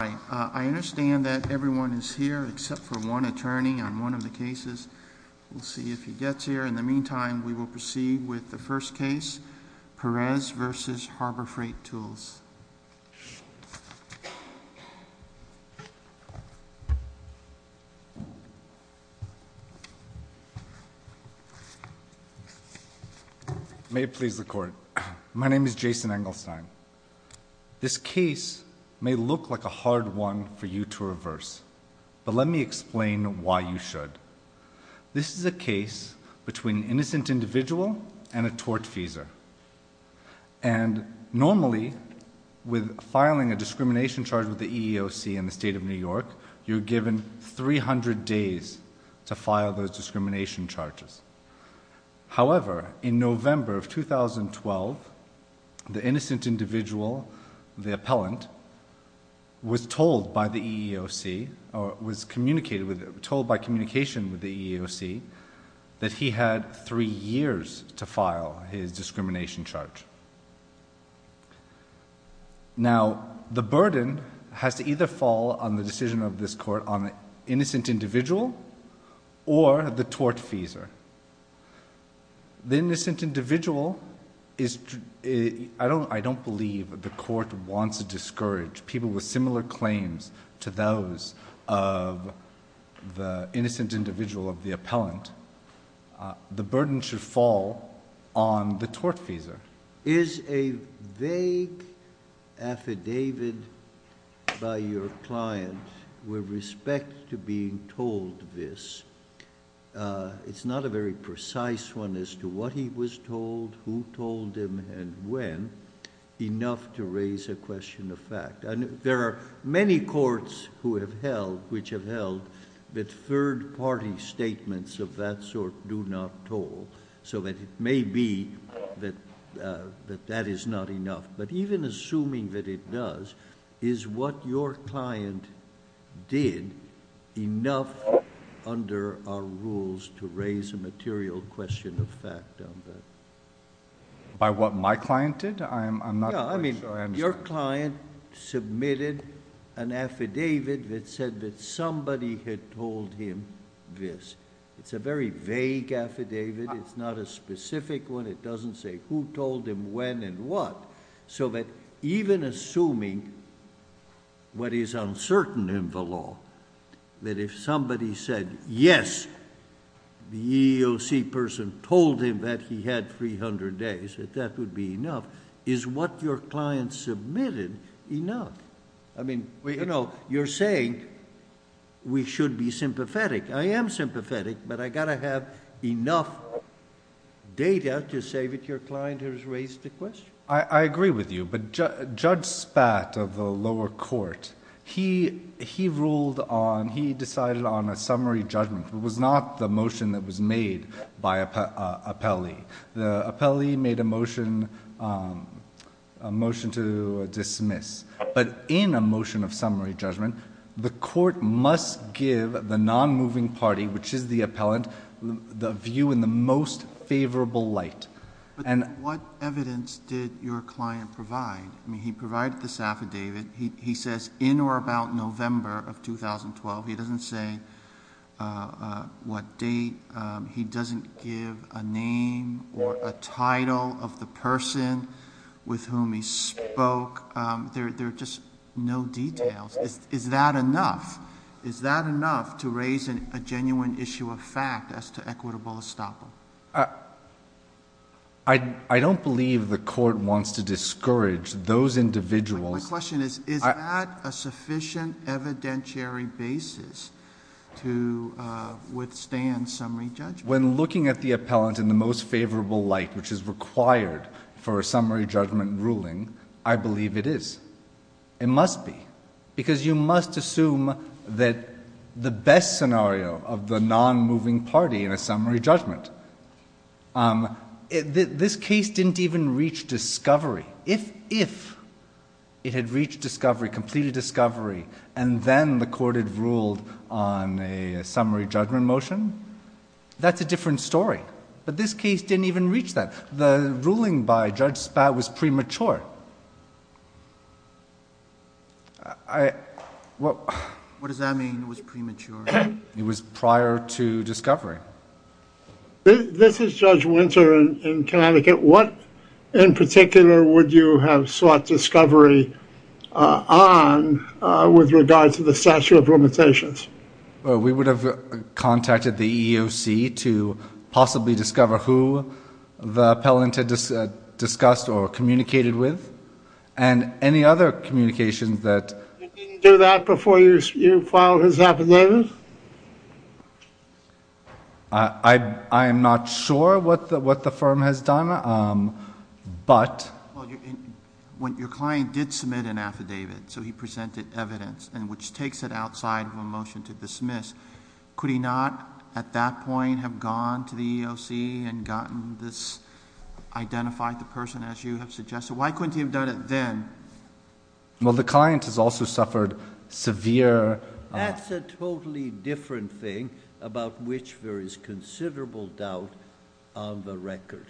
I understand that everyone is here except for one attorney on one of the cases. We'll see if he gets here. In the meantime, we will proceed with the first case Perez v. Harbor Freight Tools. May it please the court. My name is Jason Engelstein. This case may look like a hard one for you to reverse. But let me explain why you should. This is a case between an innocent individual and a tortfeasor. And normally, with filing a discrimination charge with the EEOC in the state of New York, you're given 300 days to file those discrimination charges. The innocent individual was told by the EEOC, or was told by communication with the EEOC, that he had three years to file his discrimination charge. Now, the burden has to either fall on the decision of this court on the innocent individual or the tortfeasor. The innocent individual is... I don't believe the court wants to discourage people with similar claims to those of the innocent individual of the appellant. The burden should fall on the tortfeasor. Is a vague affidavit by your client with respect to being told this, it's not a very precise one as to what he was told, who told him, and when, enough to raise a question of fact. There are many courts which have held that third-party statements of that sort do not hold, so that it may be that that is not enough. But even assuming that it does, is what your client did enough under our rules to raise a material question of fact on that? By what my client did? I'm not quite sure I understand. Your client submitted an affidavit that said that somebody had told him this. It's a very vague affidavit. It's not a specific one. It doesn't say who told him when and what, so that even assuming what is uncertain in the law, that if somebody said, yes, the EEOC person told him that he had 300 days, that that would be enough. Is what your client submitted enough? You're saying we should be sympathetic. I am sympathetic, but I got to have enough data to say that your client has raised a question. I agree with you, but Judge Spat of the lower court, he ruled on, he decided on a summary judgment. It was not the motion that was made by an appellee. The appellee made a motion to dismiss, but in a motion of summary judgment, the court must give the non-moving party, which is the appellant, the view in the most favorable light. What evidence did your client provide? He provided this affidavit. He says in or about November of 2012. He doesn't say what date. He doesn't give a name or a title of the person with whom he spoke. There are just no details. Is that enough? Is that enough to raise a genuine issue of fact as to equitable estoppel? I don't believe the court wants to discourage those individuals. My question is, is that a sufficient evidentiary basis to withstand summary judgment? When looking at the appellant in the most favorable light, which is required for a summary judgment ruling, I believe it is. It must be, because you must assume that the best scenario of the non-moving party in a summary judgment. This case didn't even reach discovery. If it had reached discovery, completed discovery, and then the court had ruled on a summary judgment motion, that's a different story. But this case didn't even reach that. The ruling by Judge Spaulding was premature. What does that mean, was premature? It was prior to discovery. This is Judge Winter in Connecticut. What in particular would you have sought discovery on with regards to the statute of limitations? We would have contacted the EEOC to possibly discover who the appellant had discussed or communicated with, and any other communications that... You didn't do that before you filed his affidavit? I am not sure what the firm has done, but... When your client did submit an affidavit, so he at that point have gone to the EEOC and gotten this, identified the person as you have suggested, why couldn't he have done it then? Well, the client has also suffered severe... That's a totally different thing about which there is considerable doubt on the record,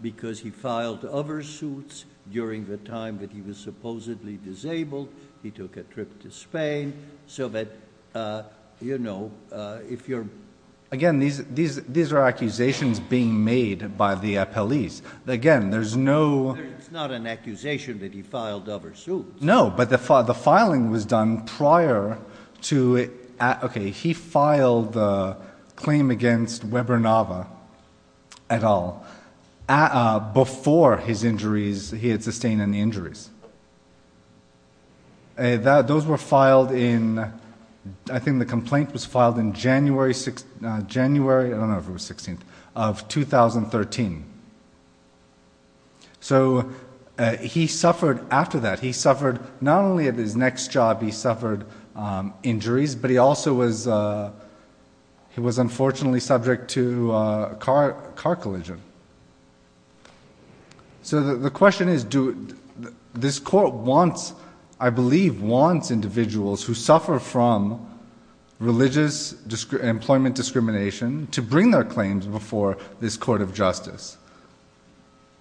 because he filed other suits during the time that he was supposedly disabled. He took a trip to Spain, so that... Again, these are accusations being made by the appellees. Again, there's no... It's not an accusation that he filed other suits. No, but the filing was done prior to... Okay, he filed the claim against Weber-Nava et al. before he had sustained any injuries. Those were filed in... I think the complaint was filed in January... I don't know if it was 16th, of 2013. So he suffered after that. He suffered, not only at his next job, he suffered injuries, but he also was... He was unfortunately subject to a car collision. Good. So the question is, do... This court wants, I believe, wants individuals who suffer from religious employment discrimination to bring their claims before this court of justice.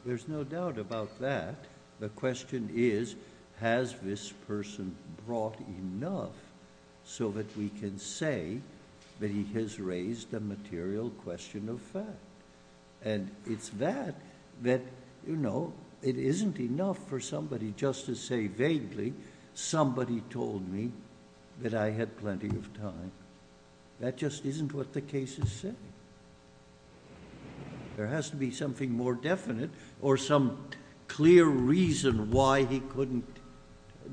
There's no doubt about that. The question is, has this person brought enough so that we can say that he has raised a material question of fact? And it's that, that it isn't enough for somebody just to say vaguely, somebody told me that I had plenty of time. That just isn't what the case is saying. There has to be something more definite or some clear reason why he couldn't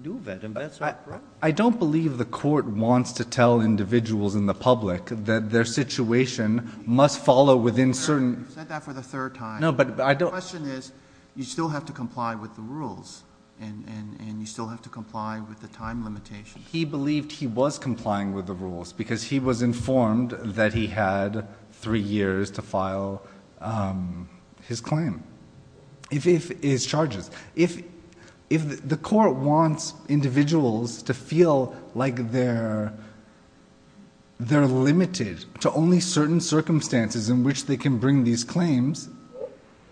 do that. And that's what... I don't believe the court wants to tell individuals in the public that their situation must follow within certain... You've said that for the third time. No, but I don't... The question is, you still have to comply with the rules and you still have to comply with the time limitations. He believed he was complying with the rules because he was informed that he had three years to file his claim, his claim. If the court wants individuals to feel like they're, they're limited to only certain circumstances in which they can bring these claims,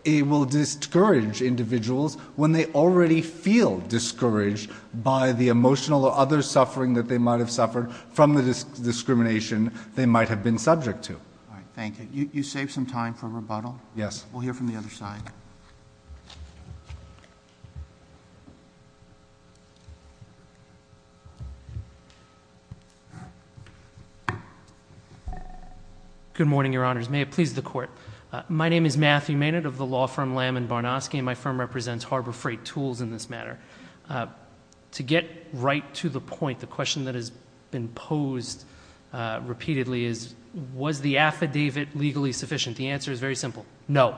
it will discourage individuals when they already feel discouraged by the emotional or other suffering that they might have suffered from the discrimination they might have been subject to. All right. Thank you. You saved some time for rebuttal. Yes. We'll hear from the other side. Good morning, your honors. May it please the court. My name is Matthew Maynard of the law firm Lamb and Barnosky and my firm represents Harbor Freight Tools in this matter. To get right to the point, the question that has been posed repeatedly is, was the affidavit legally sufficient? The answer is very simple. No.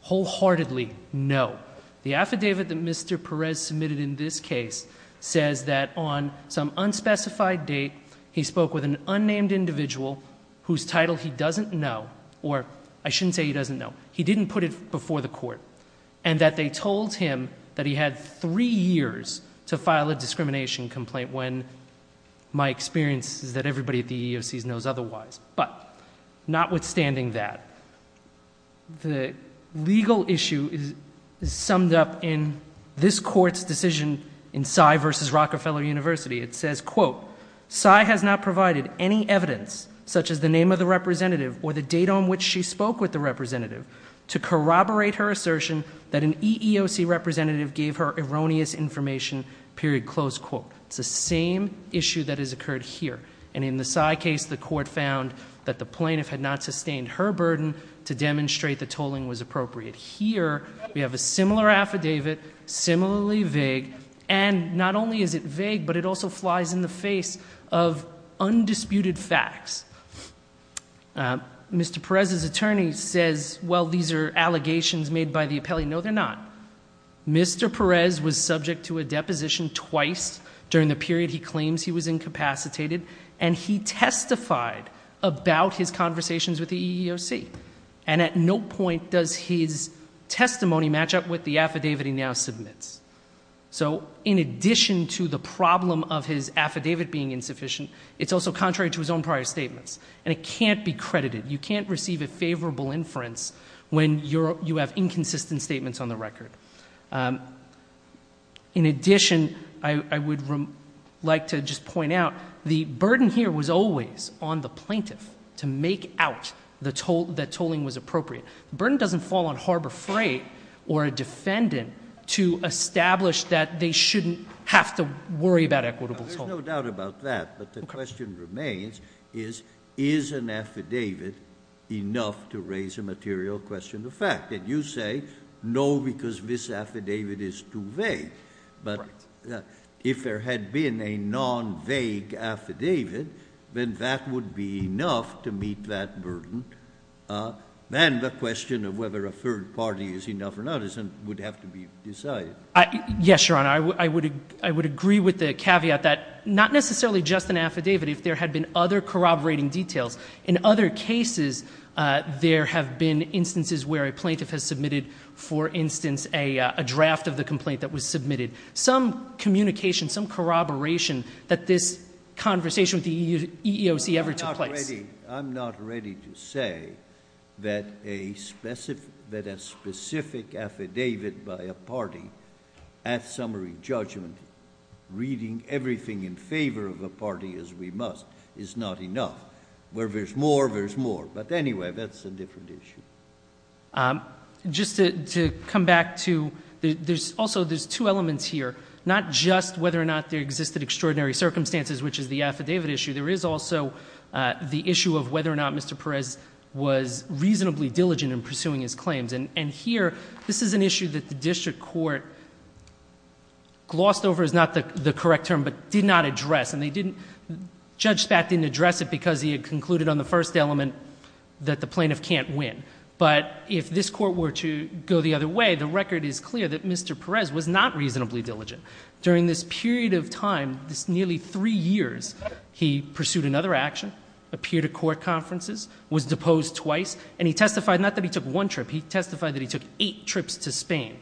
Wholeheartedly no. The affidavit that Mr. Perez submitted in this case says that on some unspecified date, he spoke with an unnamed individual whose title he doesn't know, or I shouldn't say he doesn't know, he didn't put it before the court, and that they told him that he had three years to file a discrimination complaint when my experience is that everybody at the EEOC knows otherwise. But, notwithstanding that, the legal issue is summed up in this court's decision in Cy versus Rockefeller University. It says, quote, Cy has not provided any evidence, such as the name of the representative or the date on which she spoke with the representative, to corroborate her assertion that an EEOC representative gave her erroneous information, period, close quote. It's the same issue that has occurred here. And in the Cy case, the plaintiff had not sustained her burden to demonstrate the tolling was appropriate. Here, we have a similar affidavit, similarly vague, and not only is it vague, but it also flies in the face of undisputed facts. Mr. Perez's attorney says, well, these are allegations made by the appellee. No, they're not. Mr. Perez was subject to a deposition twice during the period he claims he was incapacitated, and he testified about his conversations with the EEOC. And at no point does his testimony match up with the affidavit he now submits. So, in addition to the problem of his affidavit being insufficient, it's also contrary to his own prior statements. And it can't be credited. You can't receive a favorable inference when you have inconsistent statements on the record. In addition, I would like to just point out, the burden here was always on the plaintiff to make out that tolling was appropriate. The burden doesn't fall on Harbor Freight or a defendant to establish that they shouldn't have to worry about equitable tolling. There's no doubt about that, but the question remains is, is an affidavit enough to raise a material question of fact? And you say, no, because this affidavit is too vague. But if there had been a non-vague affidavit, then that would be enough to meet that burden. And the question of whether a third party is enough or not would have to be decided. Yes, Your Honor. I would agree with the caveat that not necessarily just an affidavit, if there had been other corroborating details. In other cases, there have been instances where a plaintiff has submitted, for instance, a draft of the complaint that was submitted. Some communication, some corroboration that this conversation with the EEOC ever took place. I'm not ready to say that a specific affidavit by a party at summary judgment reading everything in favor of a party, as we must, is not enough. Where there's more, there's more. But anyway, that's a different issue. Just to come back to, also, there's two elements here. Not just whether or not there existed extraordinary circumstances, which is the affidavit issue. There is also the issue of whether or not Mr. Perez was reasonably diligent in pursuing his claims. And here, this is an issue that the district court glossed over, is not the correct term, but did not address. And Judge Spatt didn't address it because he had concluded on the first element that the plaintiff can't win. But if this court were to go the other way, the record is clear that Mr. Perez was not reasonably diligent. During this period of time, this nearly three years, he pursued another action, appeared at court conferences, was deposed twice, and he testified, not that he took one trip, he testified that he took eight trips to Spain.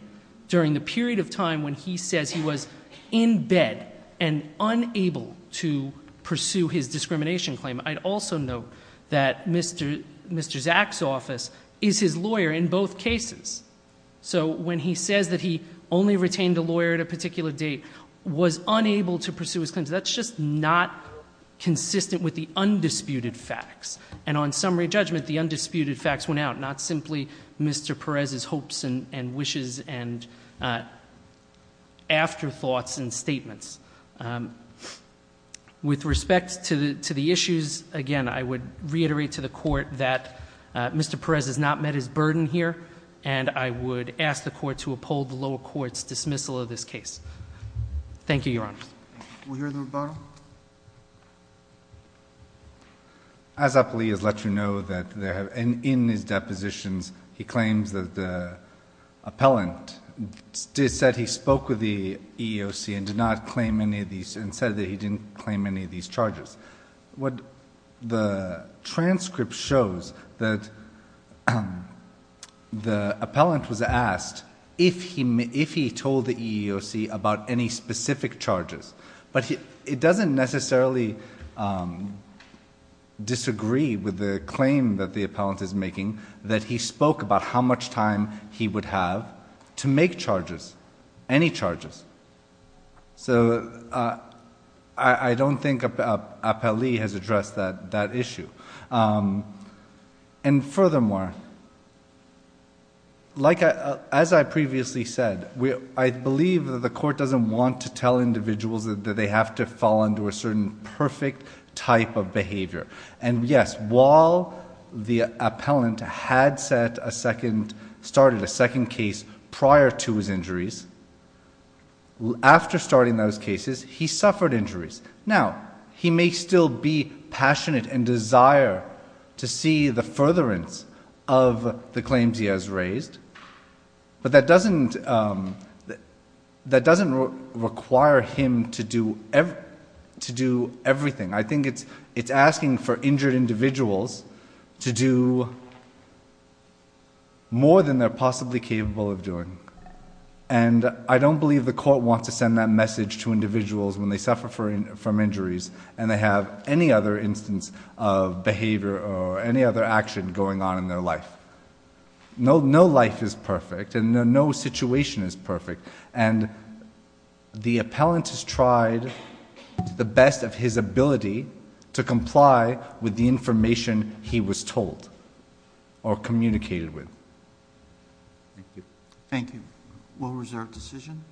During the period of time when he says he was in bed and unable to pursue his discrimination claim, I'd also note that Mr. Zak's office is his lawyer in both cases. So when he says that he only retained a lawyer at a particular date, was unable to pursue his claims, that's just not consistent with the undisputed facts. And on summary judgment, the undisputed facts went out, not simply Mr. Perez's hopes and wishes and afterthoughts and statements. With respect to the issues, again, I would reiterate to the Court that Mr. Perez has not met his burden here, and I would ask the Court to uphold the lower Court's dismissal of this case. Thank you, Your Honor. We'll hear the rebuttal. As Appellee has let you know that in his depositions, he claims that the appellant said he spoke with the EEOC and did not claim any of these, and said that he didn't claim any of these charges. The transcript shows that the appellant was asked if he told the EEOC about any specific charges, but it doesn't necessarily disagree with the claim that the appellant is making that he spoke about how much time he would have to make charges, any charges. So I don't think Appellee has addressed that issue. And furthermore, as I previously said, I believe that the Court doesn't want to tell individuals that they have to fall into a certain perfect type of behavior. And yes, while the appellant had started a second case prior to his injuries, after starting those cases, he suffered injuries. Now, he may still be passionate and desire to see the furtherance of the claims he has raised, but that doesn't require him to do everything. I think it's asking for injured individuals to do more than they're possibly capable of doing. And I don't believe the Court wants to send that message to individuals when they suffer from their life. No life is perfect and no situation is perfect. And the appellant has tried to do the best of his ability to comply with the information he was told or communicated with. Thank you. Thank you. What was our decision?